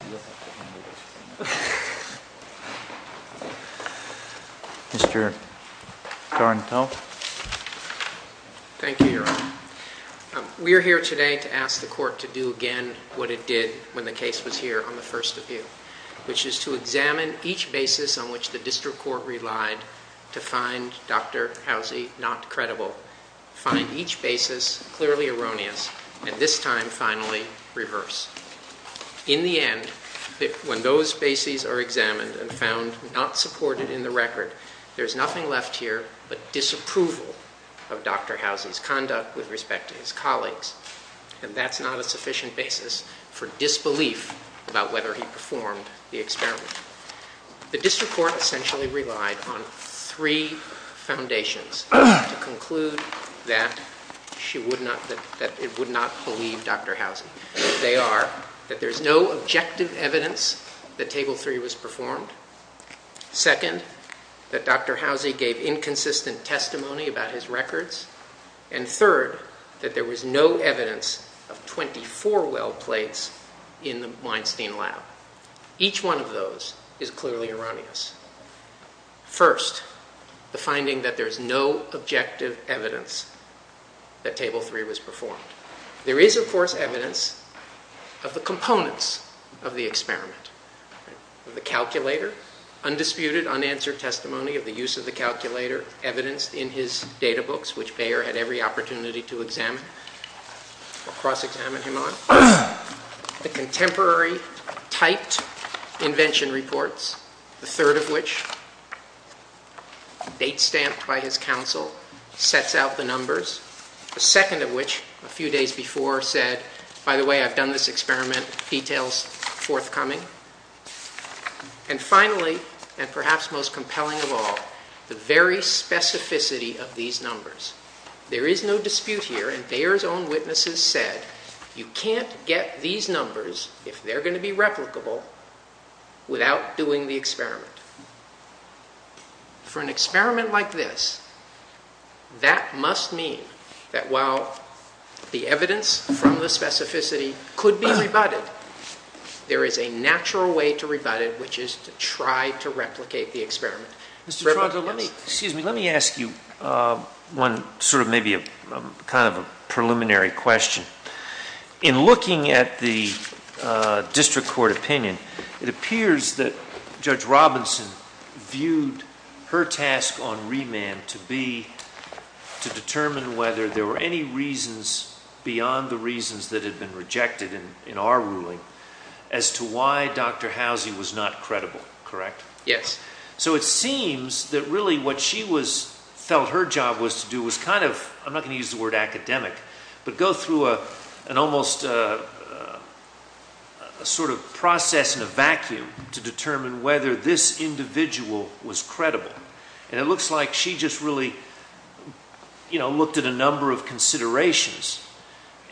We are here today to ask the Court to do again what it did when the case was here on the first appeal, which is to examine each basis on which the District Court relied to find Dr. Housey not credible, find each basis clearly erroneous, and this time finally reverse. In the end, when those bases are examined and found not supported in the record, there's nothing left here but disapproval of Dr. Housey's conduct with respect to his colleagues, and that's not a sufficient basis for disbelief about whether he performed the experiment. The District Court essentially relied on three foundations to conclude that it would not believe Dr. Housey. They are that there's no objective evidence that Table 3 was performed, second, that Dr. Housey gave inconsistent testimony about his records, and third, that there was no evidence of 24 well plates in the Weinstein lab. Each one of those is clearly erroneous. First, the finding that there's no objective evidence that Table 3 was performed. There is, of course, evidence of the components of the experiment, of the calculator, undisputed, unanswered testimony of the use of the calculator evidenced in his data books, which Bayer had every opportunity to examine or cross-examine him on, the contemporary typed invention reports, the third of which, date stamped by his counsel, sets out the numbers, the second of which, a few days before, said, by the way, I've done this experiment, details forthcoming, and finally, and perhaps most compelling of all, the very specificity of these numbers. There is no dispute here, and Bayer's own witnesses said, you can't get these numbers, if they're going to be replicable, without doing the experiment. For an experiment like this, that must mean that while the evidence from the specificity could be rebutted, there is a natural way to rebut it, which is to try to replicate the experiment. Mr. Toronto, let me ask you one sort of maybe a kind of a preliminary question. In looking at the district court opinion, it appears that Judge Robinson viewed her task on remand to be to determine whether there were any reasons beyond the reasons that had been rejected in our ruling, as to why Dr. Housie was not credible, correct? Yes. So it seems that really what she felt her job was to do was kind of, I'm not going to use the word academic, but go through an almost sort of process in a vacuum to determine whether this individual was credible. And it looks like she just really, you know, looked at a number of considerations.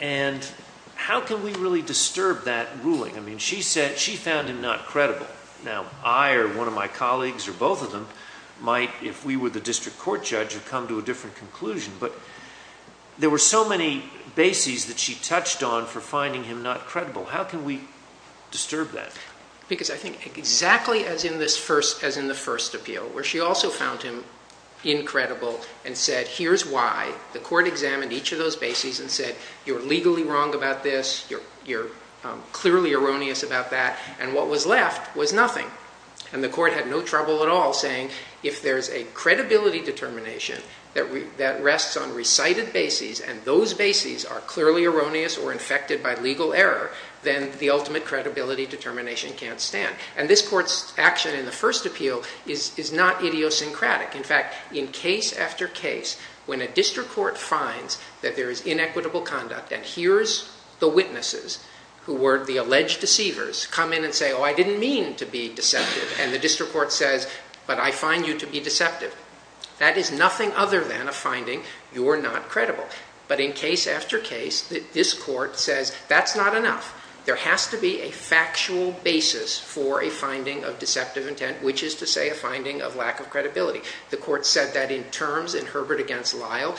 And how can we really disturb that ruling? I mean, she said she found him not credible. Now, I or one of my colleagues or both of them might, if we were the district court judge, have come to a different conclusion. But there were so many bases that she touched on for finding him not credible. How can we disturb that? Because I think exactly as in the first appeal, where she also found him incredible and said, here's why. The court examined each of those bases and said, you're legally wrong about this. You're clearly erroneous about that. And what was left was nothing. And the court had no trouble at all saying, if there's a credibility determination that rests on recited bases, and those bases are clearly erroneous or infected by legal error, then the ultimate credibility determination can't stand. And this court's action in the first appeal is not idiosyncratic. In fact, in case after case, when a district court finds that there is inequitable conduct and hears the witnesses who were the alleged deceivers come in and say, oh, I didn't mean to be deceptive. And the district court says, but I find you to be deceptive. That is nothing other than a finding. You're not credible. But in case after case, this court says, that's not enough. There has to be a factual basis for a finding of deceptive intent, which is to say a finding of lack of credibility. The court said that in terms in Herbert against Lyle,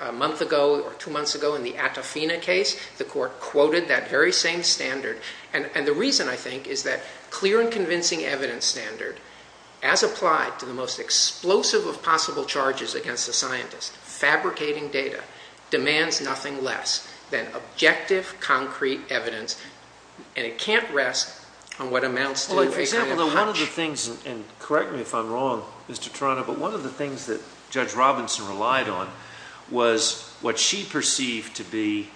a month ago or two months ago in the Attafina case, the court quoted that very same standard. And the reason, I think, is that clear and convincing evidence standard, as applied to the most explosive of possible charges against a scientist, fabricating data, demands nothing less than objective, concrete evidence. And it can't rest on what amounts to, for example, a hunch. And correct me if I'm wrong, Mr. Torano, but one of the things that Judge Robinson relied on was what she perceived to be,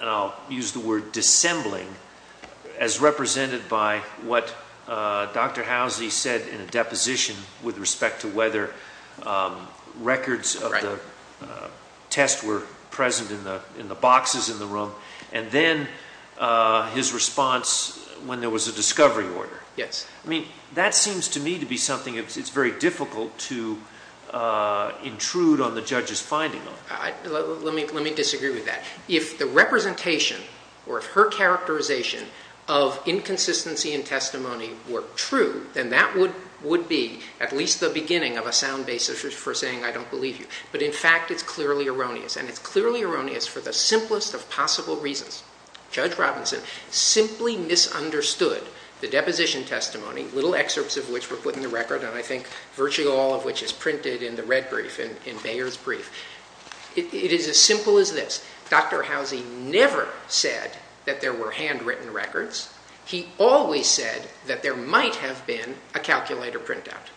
and I'll use the word dissembling, as represented by what Dr. Housley said in a deposition with respect to whether records of the test were present in the boxes in the room. And then his response when there was a discovery order. Yes. I mean, that seems to me to be something, it's very difficult to intrude on the judge's finding. Let me disagree with that. If the representation or her characterization of inconsistency in testimony were true, then that would be at least the beginning of a sound basis for saying, I don't believe you. But in fact, it's clearly erroneous. And it's clearly erroneous for the simplest of possible reasons. Judge Robinson simply misunderstood the deposition testimony, little excerpts of which were put in the record, and I think virtually all of which is printed in the red brief, in Bayer's brief. It is as simple as this. Dr. Housley never said that there were handwritten records. He always said that there might have been a calculator printout.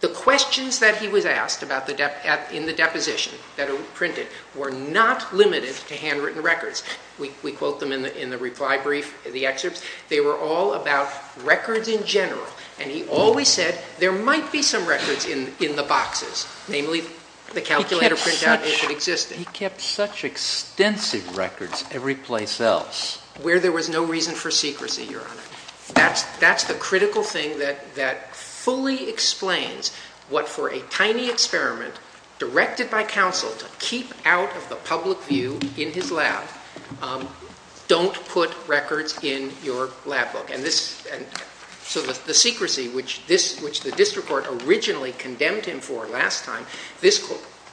The questions that he was asked in the deposition that were printed were not limited to handwritten records. We quote them in the reply brief, the excerpts. They were all about records in general. And he always said there might be some records in the boxes, namely the calculator printout if it existed. He kept such extensive records every place else. Where there was no reason for secrecy, Your Honor. That's the critical thing that fully explains what for a tiny experiment directed by counsel to keep out of the public view in his lab, don't put records in your lab book. So the secrecy, which the district court originally condemned him for last time, this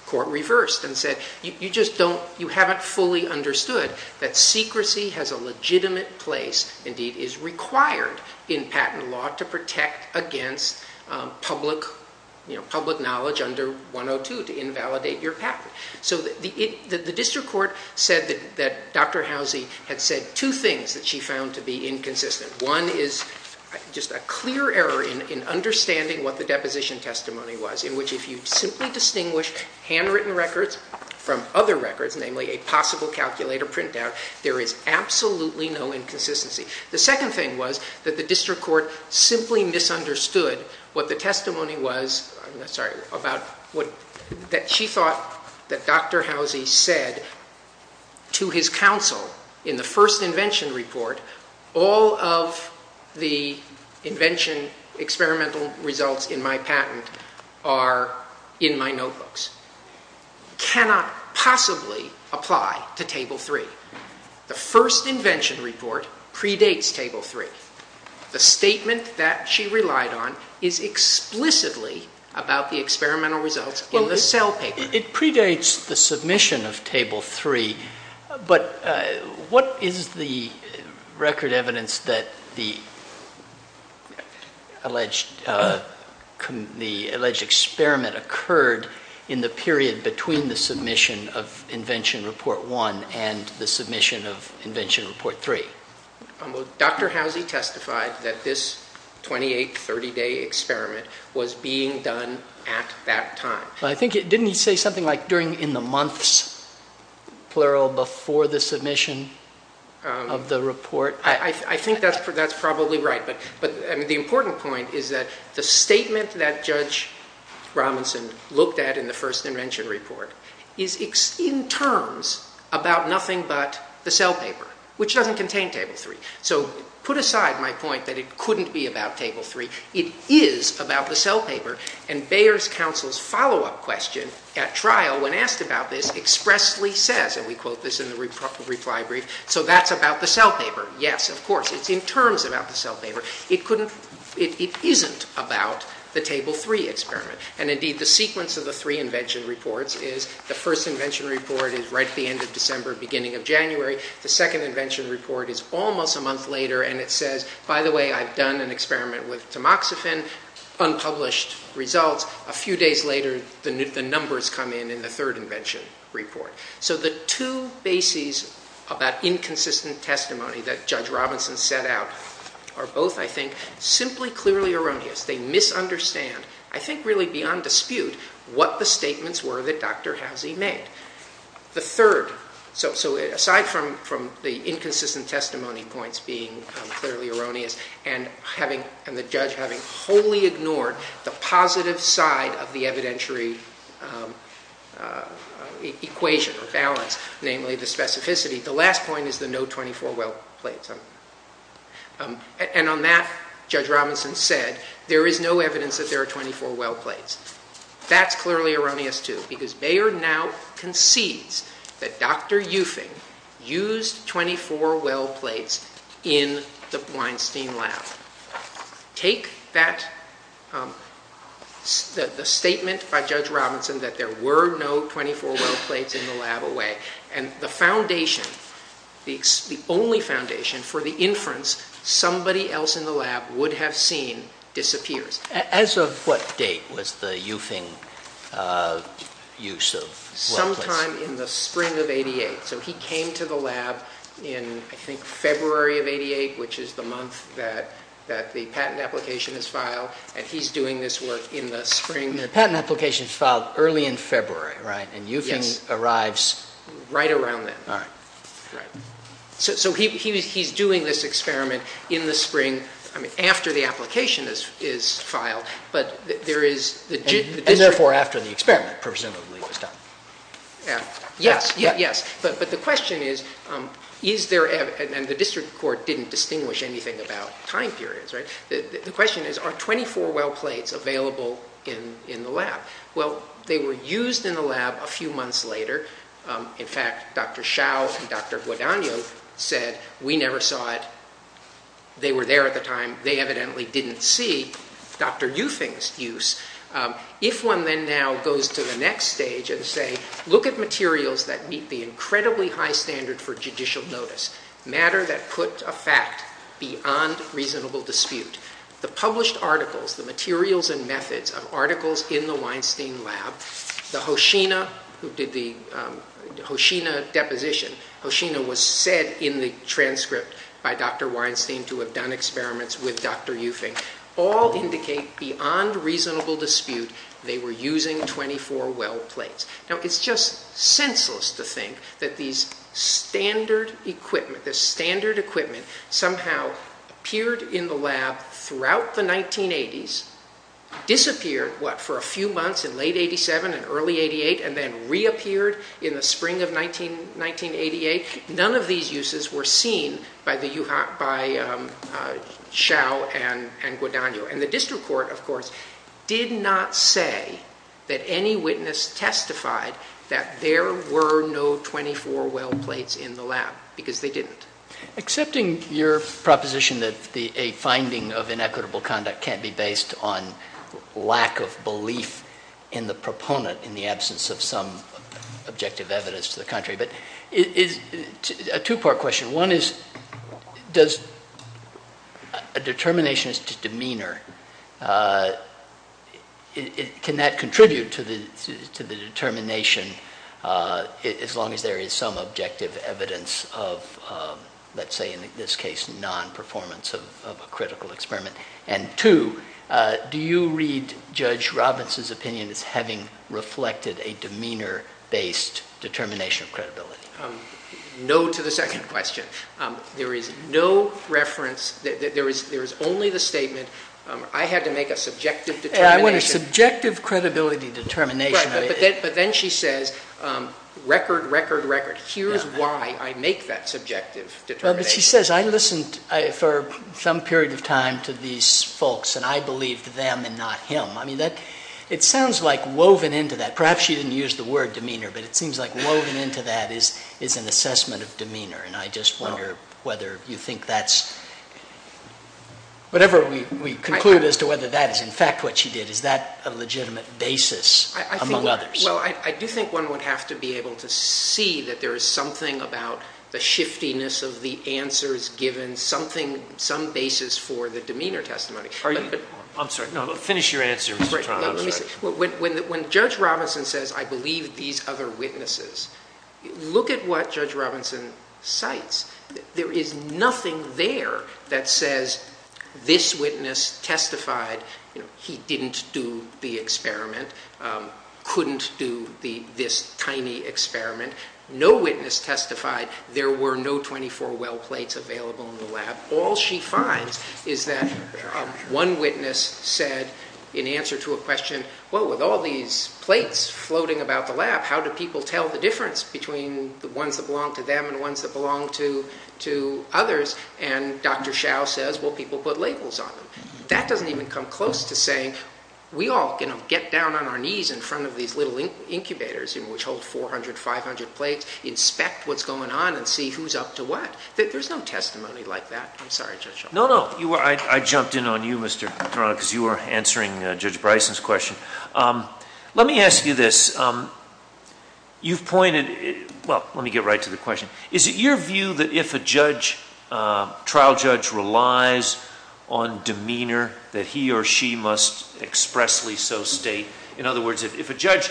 court reversed and said, you haven't fully understood that secrecy has a legitimate place, indeed is required in patent law to protect against public knowledge under 102 to invalidate your patent. So the district court said that Dr. Housley had said two things that she found to be inconsistent. One is just a clear error in understanding what the deposition testimony was, in which if you simply distinguish handwritten records from other records, namely a possible calculator printout, there is absolutely no inconsistency. The second thing was that the district court simply misunderstood what the testimony was, I'm sorry, about what she thought that Dr. Housley said to his counsel in the first invention report, all of the invention experimental results in my patent are in my notebooks, cannot possibly apply to table three. The first invention report predates table three. The statement that she relied on is explicitly about the experimental results in the cell paper. It predates the submission of table three, but what is the record evidence that the alleged experiment occurred in the period between the submission of invention report one and the submission of invention report three? Dr. Housley testified that this 28, 30 day experiment was being done at that time. I think, didn't he say something like during in the months, plural, before the submission of the report? I think that's probably right. But the important point is that the statement that Judge Robinson looked at in the first invention report is in terms about nothing but the cell paper, which doesn't contain table three. So put aside my point that it couldn't be about table three. It is about the cell paper and Bayer's counsel's follow-up question at trial when asked about this expressly says, and we quote this in the reply brief, so that's about the cell paper. Yes, of course, it's in terms about the cell paper. It couldn't, it isn't about the table three experiment. And indeed, the sequence of the three invention reports is the first invention report is right at the end of December, beginning of January. The second invention report is almost a month later. And it says, by the way, I've done an experiment with tamoxifen unpublished results. A few days later, the numbers come in, in the third invention report. So the two bases of that inconsistent testimony that Judge Robinson set out are both, I think, simply clearly erroneous. They misunderstand. I think really beyond dispute, what the statements were that Dr. Housey made. The third, so aside from the inconsistent testimony points being clearly erroneous, and the judge having wholly ignored the positive side of the evidentiary equation or balance, namely the specificity, the last point is the no 24 well plates. And on that, Judge Robinson said, there is no evidence that there are 24 well plates. That's clearly erroneous too, because Bayer now concedes that Dr. Eufing used 24 well plates in the Weinstein lab. Take that, the statement by Judge Robinson that there were no 24 well plates in the lab away, and the foundation, the only foundation for the inference somebody else in the lab would have seen disappears. As of what date was the Eufing use of well plates? Sometime in the spring of 88. So he came to the lab in, I think, February of 88, which is the month that the patent application is filed. And he's doing this work in the spring. The patent application is filed early in February, right? And Eufing arrives... Right around then. All right. Right. So he's doing this experiment in the spring, I mean, after the application is filed, but there is... And therefore, after the experiment, presumably, was done. Yeah, yes, yes. But the question is, is there... And the district court didn't distinguish anything about time periods, right? The question is, are 24 well plates available in the lab? Well, they were used in the lab a few months later. In fact, Dr. Xiao and Dr. Guadagno said, we never saw it. They were there at the time. They evidently didn't see Dr. Eufing's use. If one then now goes to the next stage and say, look at materials that meet the incredibly high standard for judicial notice. Matter that put a fact beyond reasonable dispute. The published articles, the materials and methods of articles in the Weinstein lab, the Hoshina who did the Hoshina deposition, Hoshina was said in the transcript by Dr. Weinstein to have done experiments with Dr. Eufing. All indicate beyond reasonable dispute, they were using 24 well plates. Now it's just senseless to think that these standard equipment, the standard equipment somehow appeared in the lab throughout the 1980s, disappeared for a few months in late 87 and early 88 and then reappeared in the spring of 1988. None of these uses were seen by Xiao and Guadagno. And the district court, of course, did not say that any witness testified that there were no 24 well plates in the lab because they didn't. Accepting your proposition that a finding of inequitable conduct can't be based on lack of belief in the proponent in the absence of some objective evidence to the country. But it is a two-part question. One is, does a determinationist demeanor, can that contribute to the determination as long as there is some objective evidence of, let's say in this case, non-performance of a critical experiment? And two, do you read Judge Robbins' opinion as having reflected a demeanor-based determination of credibility? Um, no to the second question. There is no reference, there is only the statement, I had to make a subjective determination. Yeah, I want a subjective credibility determination. Right, but then she says, record, record, record. Here's why I make that subjective determination. But she says, I listened for some period of time to these folks and I believed them and not him. I mean, it sounds like woven into that, perhaps she didn't use the word demeanor, but it seems like woven into that is an assessment of demeanor. And I just wonder whether you think that's, whatever we conclude as to whether that is in fact what she did, is that a legitimate basis among others? Well, I do think one would have to be able to see that there is something about the shiftiness of the answers given something, some basis for the demeanor testimony. Are you, I'm sorry, finish your answer, Mr. Toronto. Let me say, when Judge Robinson says, I believe these other witnesses, look at what Judge Robinson cites. There is nothing there that says, this witness testified, you know, he didn't do the experiment, couldn't do this tiny experiment. No witness testified, there were no 24 well plates available in the lab. All she finds is that one witness said in answer to a question, well, with all these plates floating about the lab, how do people tell the difference between the ones that belong to them and the ones that belong to others? And Dr. Shao says, well, people put labels on them. That doesn't even come close to saying, we all can get down on our knees in front of these little incubators which hold 400, 500 plates, inspect what's going on and see who's up to what. There's no testimony like that. I'm sorry, Judge Shao. No, no, I jumped in on you, Mr. Toronto, because you were answering Judge Bryson's question. Let me ask you this. You've pointed, well, let me get right to the question. Is it your view that if a judge, trial judge relies on demeanor, that he or she must expressly so state, in other words, if a judge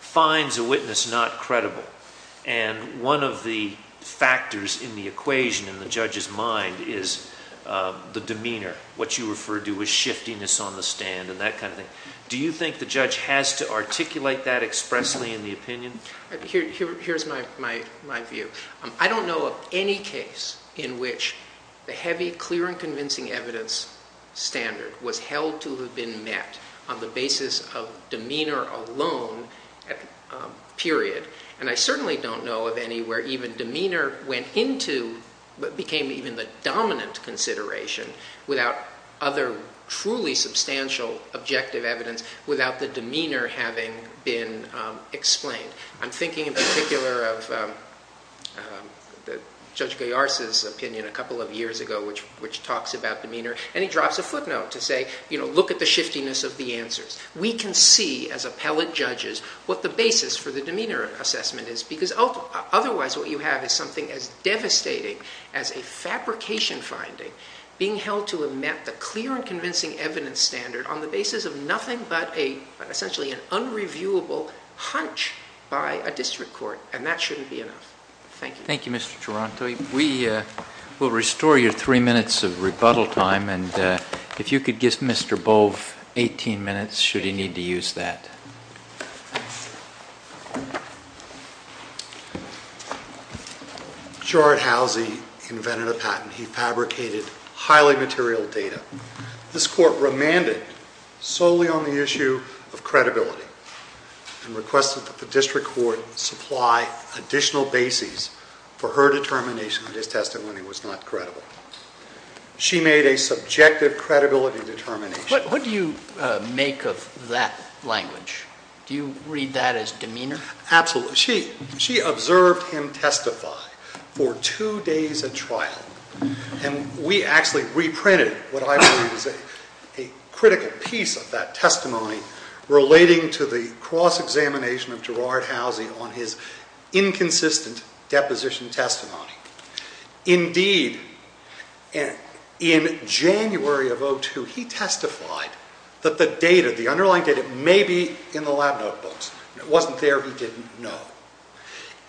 finds a witness not credible and one of the factors in the equation in the judge's mind is the demeanor, what you refer to as shiftiness on the stand and that kind of thing, do you think the judge has to articulate that expressly in the opinion? Here's my view. I don't know of any case in which the heavy, clear and convincing evidence standard was held to have been met on the basis of demeanor alone, period. And I certainly don't know of any where even demeanor went into, but became even the dominant consideration without other truly substantial objective evidence without the demeanor having been explained. I'm thinking in particular of Judge Gallarza's opinion a couple of years ago, which talks about demeanor. And he drops a footnote to say, look at the shiftiness of the answers. We can see as appellate judges what the basis for the demeanor assessment is because otherwise what you have is something as devastating as a fabrication finding being held to have met the clear and convincing evidence standard on the basis of nothing but essentially an unreviewable hunch by a district court. And that shouldn't be enough. Thank you. Thank you, Mr. Taranto. We will restore your three minutes of rebuttal time. And if you could give Mr. Bove 18 minutes, should he need to use that. Gerard Halsey invented a patent. He fabricated highly material data. This court remanded solely on the issue of credibility and requested that the district court supply additional bases for her determination that his testimony was not credible. She made a subjective credibility determination. What do you make of that language? Do you read that as demeanor? Absolutely. She observed him testify for two days at trial. And we actually reprinted what I believe is a critical piece of that testimony relating to the cross-examination of Gerard Halsey on his inconsistent deposition testimony. Indeed, in January of 2002, he testified that the underlying data may be in the lab notebooks. It wasn't there. He didn't know.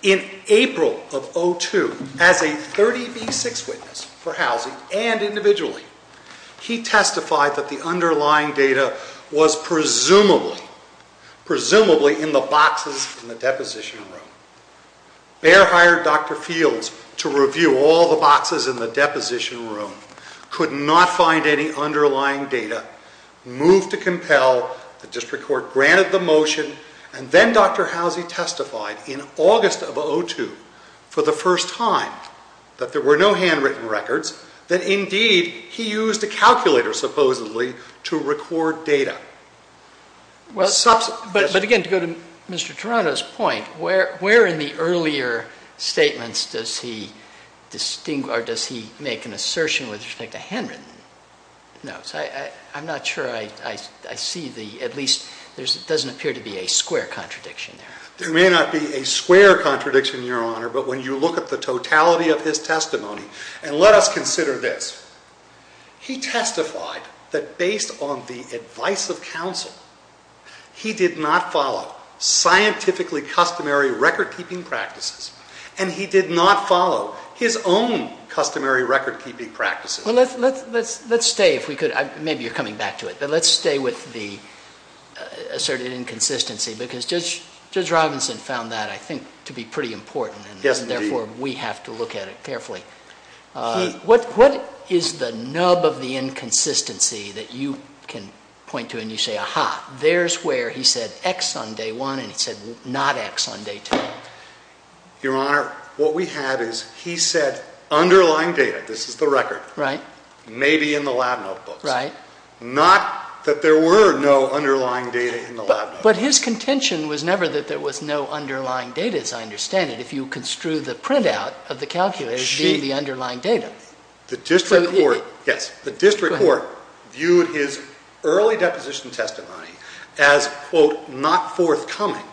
In April of 2002, as a 30B6 witness for Halsey and individually, he testified that the underlying data was presumably in the boxes in the deposition room. Behr hired Dr. Fields to review all the boxes in the deposition room. Could not find any underlying data. Moved to compel. The district court granted the motion. And then Dr. Halsey testified in August of 2002 for the first time that there were no handwritten records. That indeed, he used a calculator, supposedly, to record data. But again, to go to Mr. Toronto's point, where in the earlier statements does he make an assertion with respect to handwritten notes? I'm not sure I see the, at least, there doesn't appear to be a square contradiction there. There may not be a square contradiction, Your Honor. But when you look at the totality of his testimony, and let us consider this, he testified that based on the advice of counsel, he did not follow scientifically customary record-keeping practices, and he did not follow his own customary record-keeping practices. Well, let's stay, if we could, maybe you're coming back to it, but let's stay with the asserted inconsistency, because Judge Robinson found that, I think, to be pretty important, and therefore, we have to look at it carefully. What is the nub of the inconsistency that you can point to, and you say, aha, there's where he said X on day one, and he said not X on day two? Your Honor, what we have is he said underlying data, this is the record, maybe in the lab notebooks, not that there were no underlying data in the lab notebooks. But his contention was never that there was no underlying data, as I understand it, if you construe the printout of the calculator to be the underlying data. The district court, yes. The district court viewed his early deposition testimony as, quote, not forthcoming,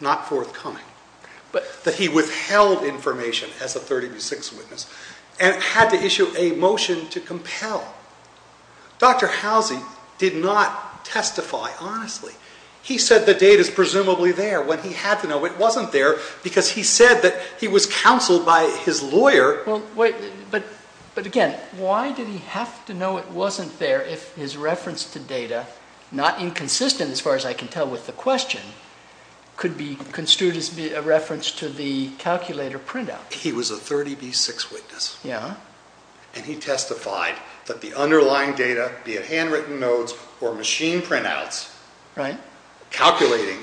not forthcoming, that he withheld information as a 30 to six witness, and had to issue a motion to compel. Dr. Housie did not testify honestly. He said the data's presumably there, when he had to know it wasn't there, because he said that he was counseled by his lawyer. Well, wait, but again, why did he have to know it wasn't there if his reference to data, not inconsistent as far as I can tell with the question, could be construed as a reference to the calculator printout? He was a 30 B6 witness. Yeah. And he testified that the underlying data, be it handwritten notes or machine printouts, calculating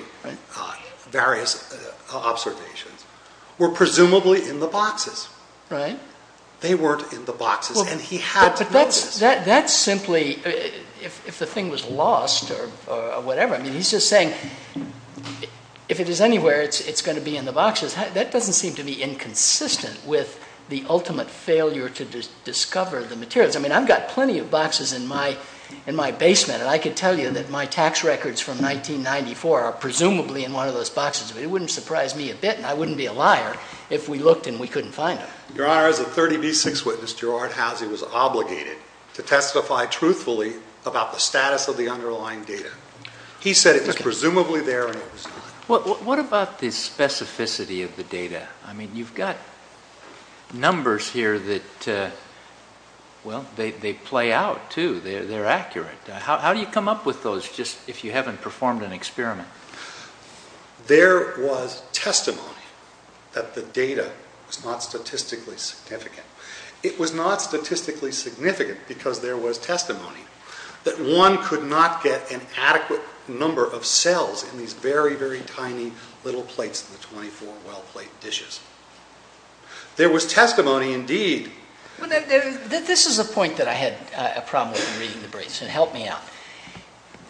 various observations, were presumably in the boxes. Right. They weren't in the boxes, and he had to know this. That's simply, if the thing was lost or whatever, I mean, he's just saying, if it is anywhere, it's going to be in the boxes. That doesn't seem to be inconsistent with the ultimate failure to discover the materials. I mean, I've got plenty of boxes in my basement, and I could tell you that my tax records from 1994 are presumably in one of those boxes, but it wouldn't surprise me a bit, and I wouldn't be a liar if we looked and we couldn't find it. Your Honor, as a 30 B6 witness, Gerard Housey was obligated to testify truthfully about the status of the underlying data. He said it was presumably there, and it was not. What about the specificity of the data? I mean, you've got numbers here that, well, they play out too. They're accurate. How do you come up with those just if you haven't performed an experiment? There was testimony that the data was not statistically significant. It was not statistically significant because there was testimony that one could not get an adequate number of cells in these very, very tiny little plates in the 24 well-placed dishes. There was testimony, indeed. Well, this is a point that I had a problem with in reading the briefs, and it helped me out.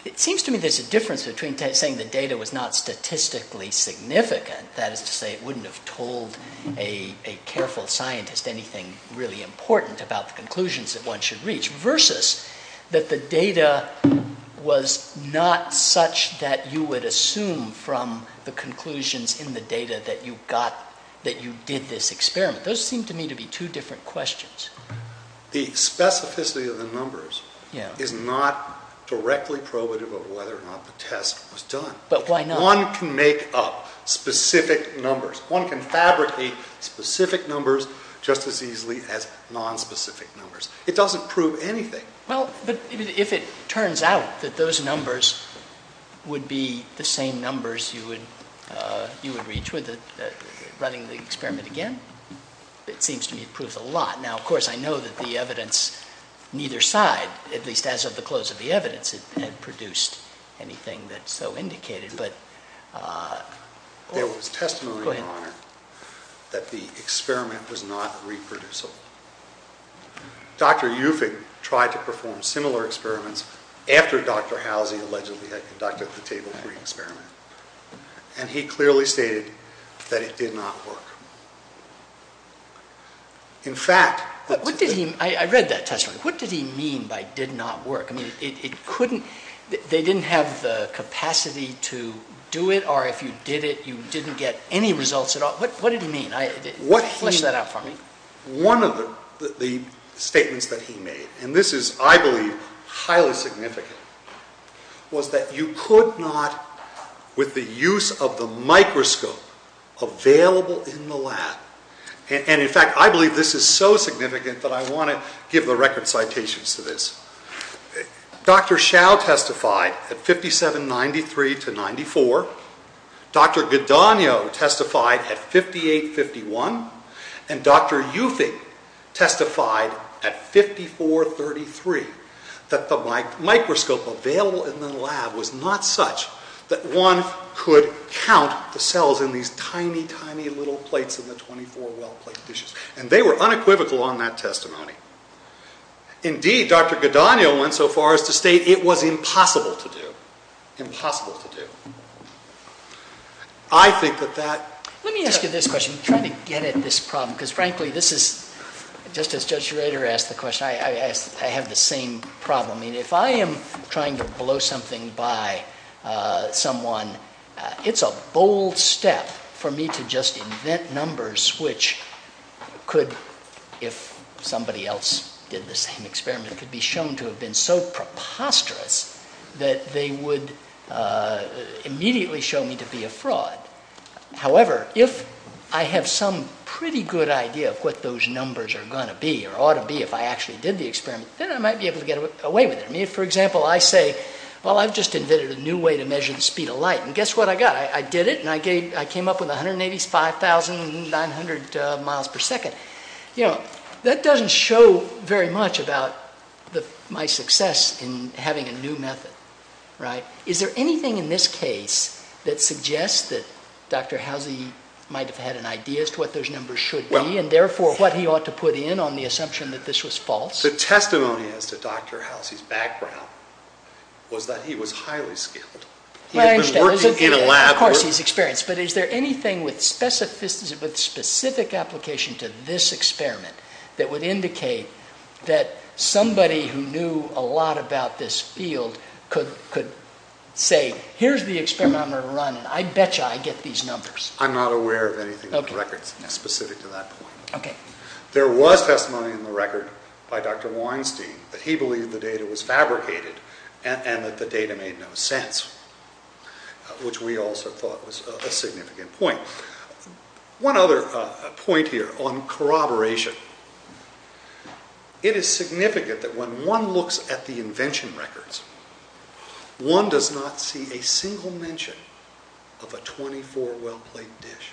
It seems to me there's a difference between saying the data was not statistically significant, that is to say it wouldn't have told a careful scientist anything really important about the conclusions that one should reach, versus that the data was not such that you would assume from the conclusions in the data that you did this experiment. Those seem to me to be two different questions. The specificity of the numbers is not directly probative of whether or not the test was done. But why not? One can make up specific numbers. One can fabricate specific numbers just as easily as non-specific numbers. It doesn't prove anything. Well, but if it turns out that those numbers would be the same numbers you would reach with running the experiment again, it seems to me it proves a lot. Now, of course, I know that the evidence, neither side, at least as of the close of the evidence, had produced anything that's so indicated, but... There was testimony, Your Honor, that the experiment was not reproducible. Dr. Ufig tried to perform similar experiments after Dr. Halsey allegedly had conducted the Table 3 experiment. And he clearly stated that it did not work. In fact... But what did he... I read that testimony. What did he mean by did not work? It couldn't... They didn't have the capacity to do it, or if you did it, you didn't get any results at all. What did he mean? Flesh that out for me. One of the statements that he made, and this is, I believe, highly significant, was that you could not, with the use of the microscope available in the lab... And in fact, I believe this is so significant that I want to give the record citations to this. Dr. Hsiao testified at 57.93 to 94. Dr. Godogno testified at 58.51. And Dr. Ufig testified at 54.33, that the microscope available in the lab was not such that one could count the cells in these tiny, tiny little plates of the 24 well plate dishes. And they were unequivocal on that testimony. Indeed, Dr. Godogno went so far as to state it was impossible to do, impossible to do. I think that that... Let me ask you this question. I'm trying to get at this problem, because frankly, this is, just as Judge Schrader asked the question, I have the same problem. I mean, if I am trying to blow something by someone, it's a bold step for me to just invent numbers which could, if somebody else did the same experiment, could be shown to have been so preposterous that they would immediately show me to be a fraud. However, if I have some pretty good idea of what those numbers are going to be, or ought to be if I actually did the experiment, then I might be able to get away with it. I mean, for example, I say, well, I've just invented a new way to measure the speed of light. And guess what I got? I did it, and I came up with 185,900 miles per second. That doesn't show very much about my success in having a new method, right? Is there anything in this case that suggests that Dr. Halsey might have had an idea as to what those numbers should be, and therefore what he ought to put in on the assumption that this was false? The testimony as to Dr. Halsey's background was that he was highly skilled. He had been working in a lab. Of course, he's experienced, but is there anything with specific application to this experiment that would indicate that somebody who knew a lot about this field could say, here's the experiment I'm going to run, and I bet you I get these numbers. I'm not aware of anything in the records specific to that point. Okay. There was testimony in the record by Dr. Weinstein that he believed the data was fabricated and that the data made no sense. Which we also thought was a significant point. One other point here on corroboration. It is significant that when one looks at the invention records, one does not see a single mention of a 24-well plate dish.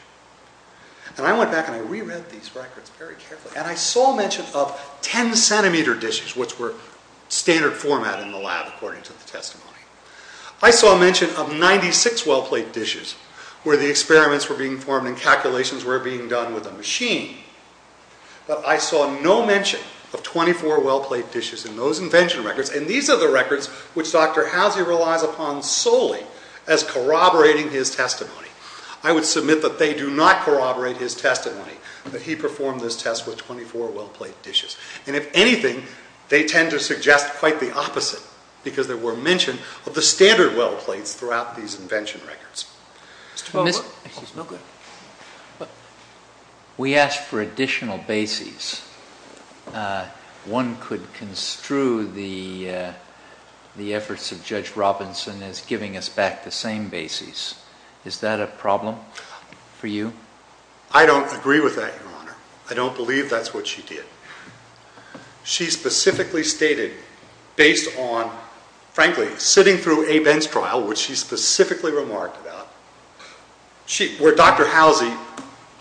And I went back and I reread these records very carefully, and I saw mention of 10-centimeter dishes, which were standard format in the lab, according to the testimony. I saw mention of 96-well plate dishes where the experiments were being formed and calculations were being done with a machine, but I saw no mention of 24-well plate dishes in those invention records. And these are the records which Dr. Housey relies upon solely as corroborating his testimony. I would submit that they do not corroborate his testimony, that he performed this test with 24-well plate dishes. And if anything, they tend to suggest quite the opposite, because there were mention of the standard-well plates throughout these invention records. It's 24-well plates. Excuse me. We asked for additional bases. One could construe the efforts of Judge Robinson as giving us back the same bases. Is that a problem for you? I don't agree with that, Your Honor. I don't believe that's what she did. She specifically stated, based on, frankly, sitting through a Benz trial, which she specifically remarked about, where Dr. Housey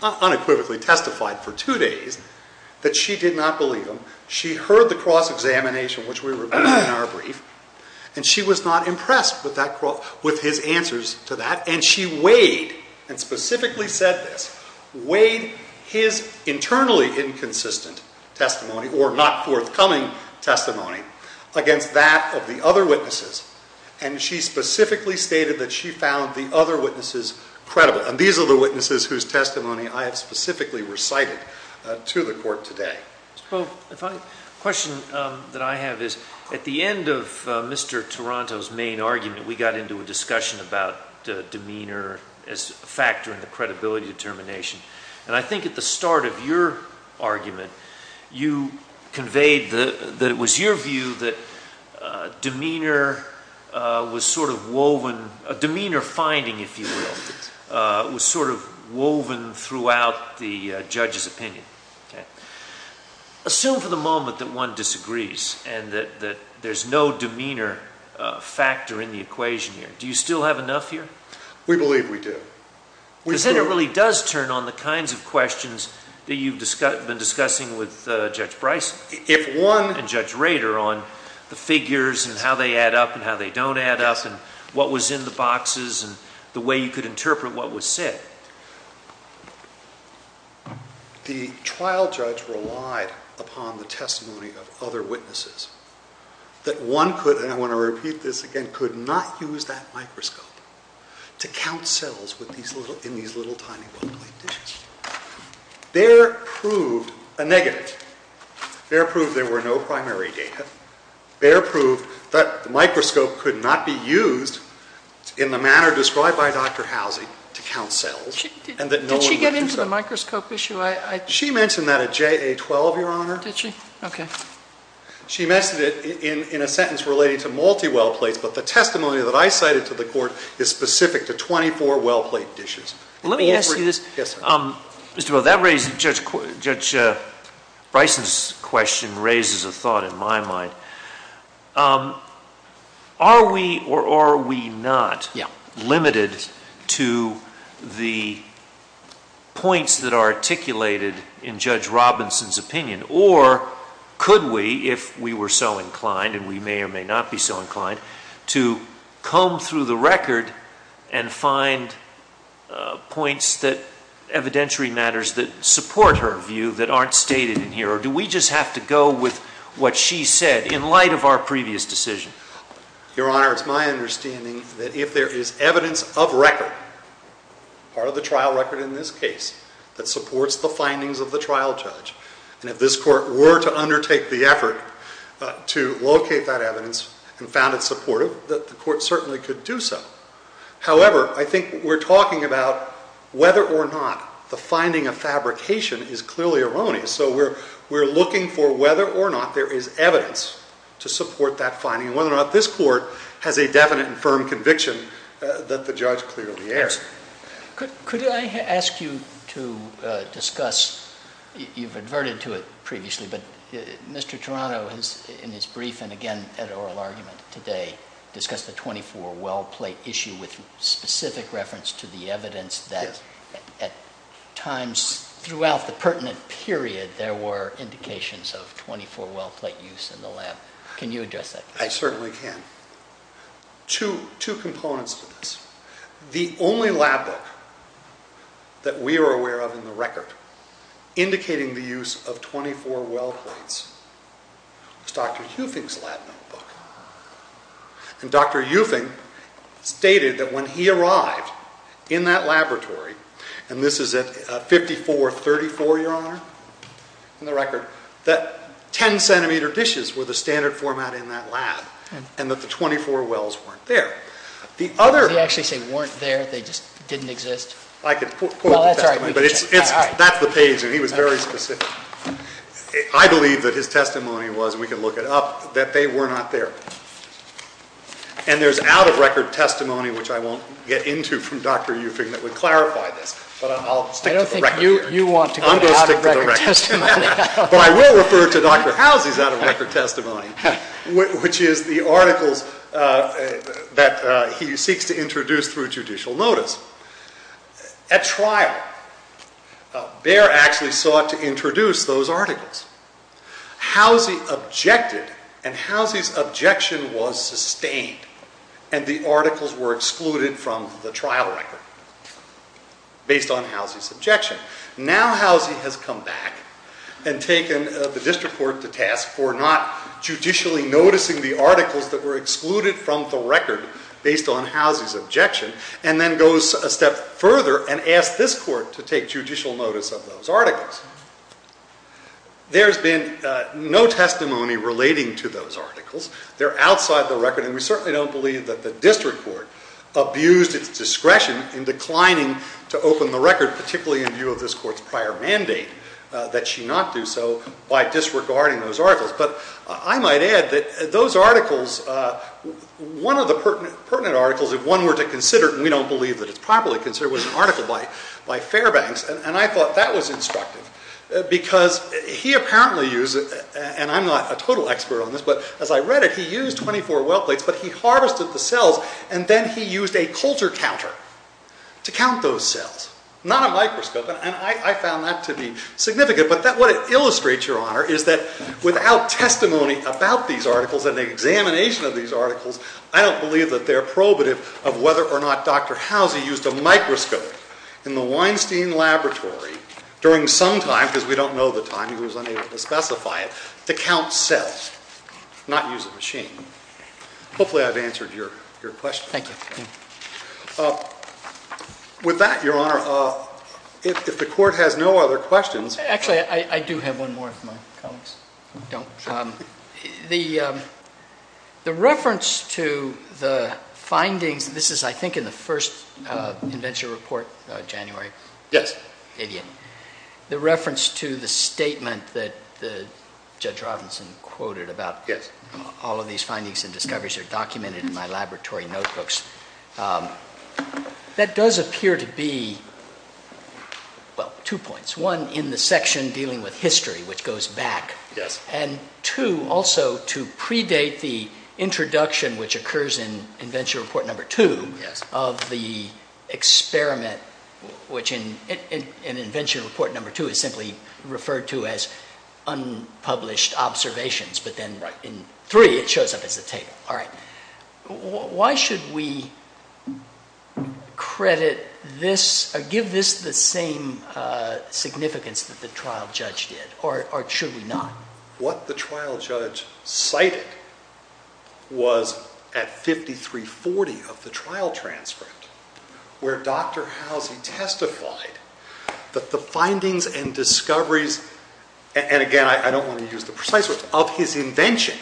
unequivocally testified for two days that she did not believe him. She heard the cross-examination, which we reviewed in our brief, and she was not impressed with his answers to that. And she weighed, and specifically said this, weighed his internally inconsistent testimony, or not forthcoming testimony, against that of the other witnesses. And she specifically stated that she found the other witnesses credible. And these are the witnesses whose testimony I have specifically recited to the court today. Mr. Boehme, a question that I have is, at the end of Mr. Taranto's main argument, we got into a discussion about demeanor as a factor in the credibility determination. And I think at the start of your argument, you conveyed that it was your view that demeanor was sort of woven, a demeanor finding, if you will, was sort of woven throughout the judge's opinion. Assume for the moment that one disagrees, and that there's no demeanor factor in the equation here. Do you still have enough here? We believe we do. Because then it really does turn on the kinds of questions that you've been discussing with Judge Bryson and Judge Rader on the figures, and how they add up, and how they don't add up, and what was in the boxes, and the way you could interpret what was said. The trial judge relied upon the testimony of other witnesses that one could, and I want to repeat this again, could not use that microscope. To count cells in these little tiny well plate dishes. There proved a negative. There proved there were no primary data. There proved that the microscope could not be used in the manner described by Dr. Housing to count cells. Did she get into the microscope issue? She mentioned that at JA-12, Your Honor. Did she? Okay. She mentioned it in a sentence relating to multi-well plates, but the testimony that I cited is specific to 24 well plate dishes. Let me ask you this. Mr. Booth, Judge Bryson's question raises a thought in my mind. Are we or are we not limited to the points that are articulated in Judge Robinson's opinion? Or could we, if we were so inclined, and we may or may not be so inclined, to comb through the record and find points that evidentiary matters that support her view that aren't stated in here? Or do we just have to go with what she said in light of our previous decision? Your Honor, it's my understanding that if there is evidence of record, part of the trial record in this case, that supports the findings of the trial judge, and if this court were to undertake the effort to locate that evidence and found it supportive, that the court certainly could do so. However, I think we're talking about whether or not the finding of fabrication is clearly erroneous. So we're looking for whether or not there is evidence to support that finding, and whether or not this court has a definite and firm conviction that the judge clearly erred. Could I ask you to discuss, you've adverted to it previously, but Mr. Toronto has, in his brief and again at oral argument today, discussed the 24 well plate issue with specific reference to the evidence that at times throughout the pertinent period, there were indications of 24 well plate use in the lab. Can you address that? I certainly can. Two components to this. The only lab book that we are aware of in the record indicating the use of 24 well plates is Dr. Eufing's lab notebook. And Dr. Eufing stated that when he arrived in that laboratory, and this is at 5434, your honor, in the record, that 10 centimeter dishes were the standard format in that lab, and that the 24 wells weren't there. The other... Did he actually say weren't there? They just didn't exist? I could quote the testimony, but that's the page. He was very specific. I believe that his testimony was, we can look it up, that they were not there. And there's out of record testimony, which I won't get into from Dr. Eufing that would clarify this, but I'll stick to the record here. I don't think you want to go out of record testimony. But I will refer to Dr. Housie's out of record testimony, which is the articles that he seeks to introduce through judicial notice. At trial, Behr actually sought to introduce those articles. Housie objected, and Housie's objection was sustained, and the articles were excluded from the trial record, based on Housie's objection. Now, Housie has come back and taken the district court to task for not judicially noticing the articles that were excluded from the record based on Housie's objection, and then goes a step further and asks this court to take judicial notice of those articles. There's been no testimony relating to those articles. They're outside the record, and we certainly don't believe that the district court abused its discretion in declining to open the record, particularly in view of this court's prior mandate that she not do so by disregarding those articles. But I might add that those articles, one of the pertinent articles, if one were to consider it, and we don't believe that it's properly considered, was an article by Fairbanks, and I thought that was instructive because he apparently used, and I'm not a total expert on this, but as I read it, he used 24 well plates, but he harvested the cells, and then he used a coulter counter to count those cells, not a microscope, and I found that to be significant. But what it illustrates, Your Honor, is that without testimony about these articles and the examination of these articles, I don't believe that they're probative of whether or not Dr. Howsey used a microscope in the Weinstein Laboratory during some time, because we don't know the time, he was unable to specify it, to count cells, not use a machine. Hopefully I've answered your question. Thank you. With that, Your Honor, if the court has no other questions. Actually, I do have one more if my colleagues don't. The reference to the findings, this is, I think, in the first invention report, January. Yes. The reference to the statement that Judge Robinson quoted about all of these findings and discoveries are documented in my laboratory notebooks. That does appear to be, well, two points. One, in the section dealing with history, which goes back, and two, also to predate the introduction, which occurs in invention report number two, of the experiment, which in invention report number two is simply referred to as unpublished observations, but then in three, it shows up as a table. Why should we give this the same significance that the trial judge did, or should we not? What the trial judge cited was at 5340 of the trial transcript, where Dr. Halsey testified that the findings and discoveries, and again, I don't want to use the precise words, of his invention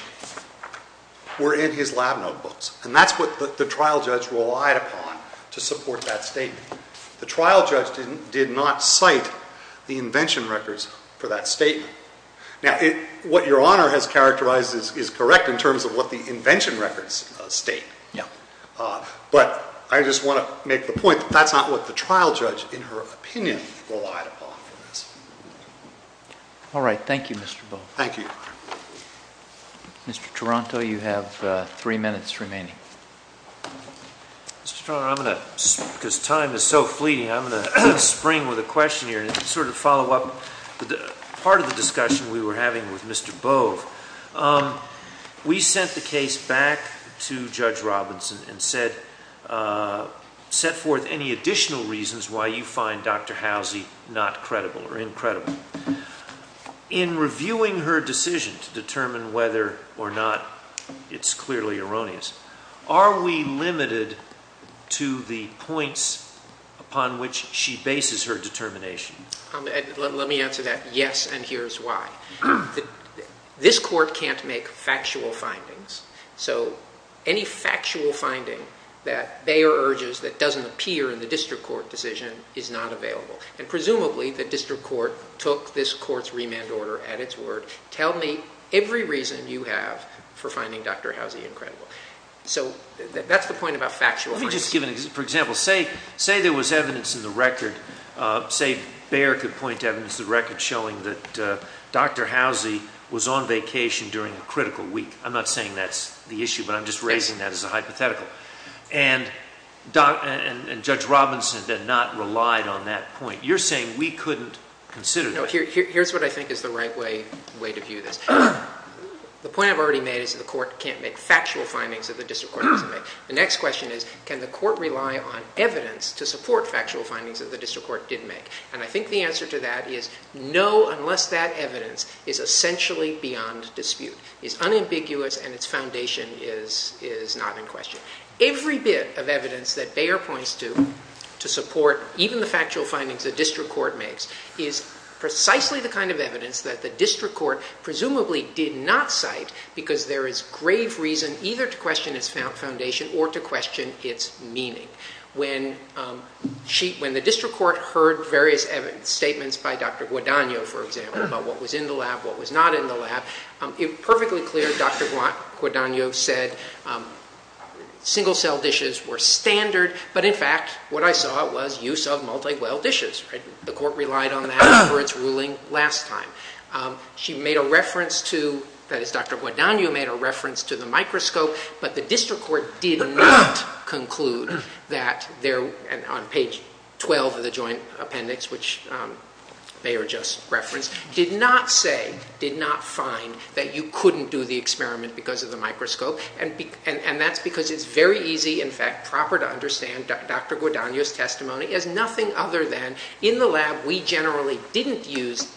were in his lab notebooks. And that's what the trial judge relied upon to support that statement. The trial judge did not cite the invention records for that statement. Now, what Your Honor has characterized is correct in terms of what the invention records state. But I just want to make the point that that's not what the trial judge, in her opinion, relied upon for this. All right. Thank you, Mr. Bow. Thank you, Your Honor. Mr. Toronto, you have three minutes remaining. Mr. Toronto, I'm going to, because time is so fleeting, I'm going to spring with a question here and sort of follow up. Part of the discussion we were having with Mr. Bove, we sent the case back to Judge Robinson and set forth any additional reasons why you find Dr. Halsey not credible or incredible. In reviewing her decision to determine whether or not, it's clearly erroneous, are we limited to the points upon which she bases her determination? Let me answer that. Yes, and here's why. This court can't make factual findings. So any factual finding that Bayer urges that doesn't appear in the district court decision is not available. And presumably, the district court took this court's remand order at its word, tell me every reason you have for finding Dr. Halsey incredible. So that's the point about factual findings. Let me just give an example. For example, say there was evidence in the record, say Bayer could point to evidence in the record showing that Dr. Halsey was on vacation during a critical week. I'm not saying that's the issue, but I'm just raising that as a hypothetical. And Judge Robinson did not rely on that point. You're saying we couldn't consider that. No, here's what I think is the right way to view this. The point I've already made is the court can't make factual findings that the district court doesn't make. The next question is, can the court rely on evidence to support factual findings that the district court did make? And I think the answer to that is no, unless that evidence is essentially beyond dispute, is unambiguous, and its foundation is not in question. Every bit of evidence that Bayer points to to support even the factual findings the district court makes is precisely the kind of evidence that the district court presumably did not cite because there is grave reason either to question its foundation or to question its meaning. When the district court heard various evidence statements by Dr. Guadagno, for example, about what was in the lab, what was not in the lab, perfectly clear, Dr. Guadagno said single-cell dishes were standard, but in fact, what I saw was use of multi-well dishes. The court relied on that for its ruling last time. She made a reference to, that is, Dr. Guadagno made a reference to the microscope, but the district court did not conclude that on page 12 of the joint appendix, which Bayer just referenced, did not say, did not find that you couldn't do the experiment because of the microscope, and that's because it's very easy, in fact, proper to understand Dr. Guadagno's testimony as nothing other than, in the lab, we generally didn't use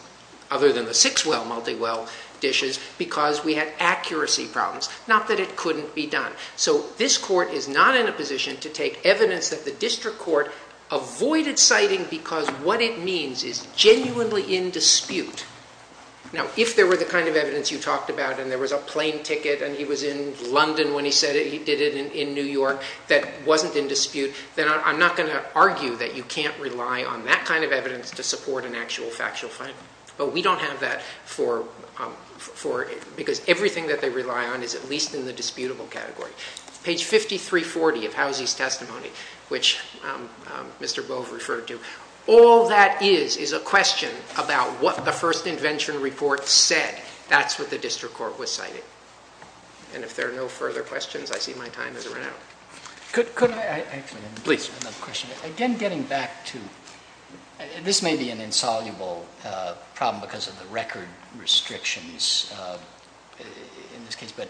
other than the six-well multi-well dishes because we had accuracy problems, not that it couldn't be done. So this court is not in a position to take evidence that the district court avoided citing because what it means is genuinely in dispute. Now, if there were the kind of evidence you talked about, and there was a plane ticket, and he was in London when he said it, he did it in New York, that wasn't in dispute, then I'm not going to argue that you can't rely on that kind of evidence to support an actual factual finding, but we don't have that for, because everything that they rely on is at least in the disputable category. Page 5340 of Housey's testimony, which Mr. Bove referred to, all that is is a question about what the first invention report said. That's what the district court was citing. And if there are no further questions, I see my time has run out. Could I, actually, please, another question. Again, getting back to, this may be an insoluble problem because of the record restrictions in this case, but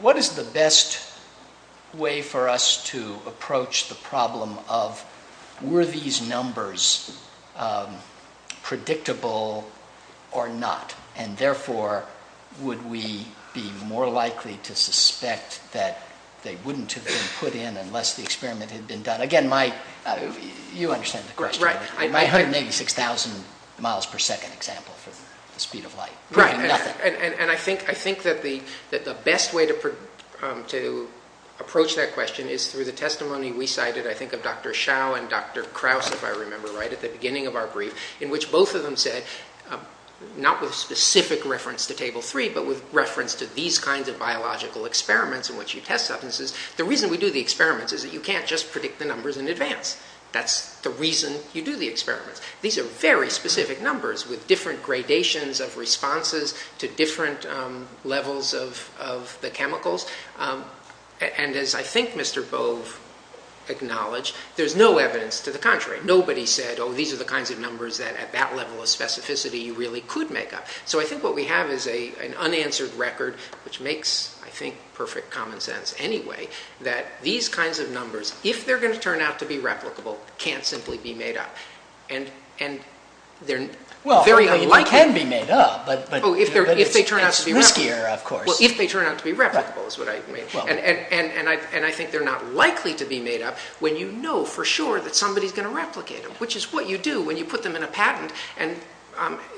what is the best way for us to approach the problem of, were these numbers predictable or not, and therefore, would we be more likely to suspect that they wouldn't have been put in unless the experiment had been done? Again, my, you understand the question. My 186,000 miles per second example for the speed of light. Right, and I think that the best way to approach that question is through the testimony we cited, I think of Dr. Shao and Dr. Krause, if I remember right, at the beginning of our brief, in which both of them said, not with specific reference to table three, but with reference to these kinds of biological experiments in which you test substances. The reason we do the experiments is that you can't just predict the numbers in advance. That's the reason you do the experiments. These are very specific numbers with different gradations of responses to different levels of the chemicals. And as I think Mr. Bove acknowledged, there's no evidence to the contrary. Nobody said, oh, these are the kinds of numbers that at that level of specificity you really could make up. So I think what we have is an unanswered record, which makes, I think, perfect common sense anyway, that these kinds of numbers, if they're going to turn out to be replicable, can't simply be made up. And they're very unlikely. They can be made up, but it's riskier, of course. If they turn out to be replicable, is what I mean. And I think they're not likely to be made up when you know for sure that somebody's going to replicate them, which is what you do when you put them in a patent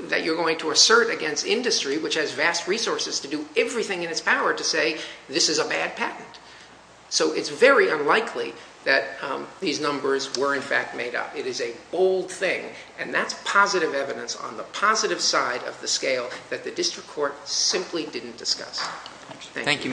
that you're going to assert against industry, which has vast resources to do everything in its power to say this is a bad patent. So it's very unlikely that these numbers were in fact made up. It is a bold thing. And that's positive evidence on the positive side of the scale that the district court simply didn't discuss. Thank you, Mr. Taranto.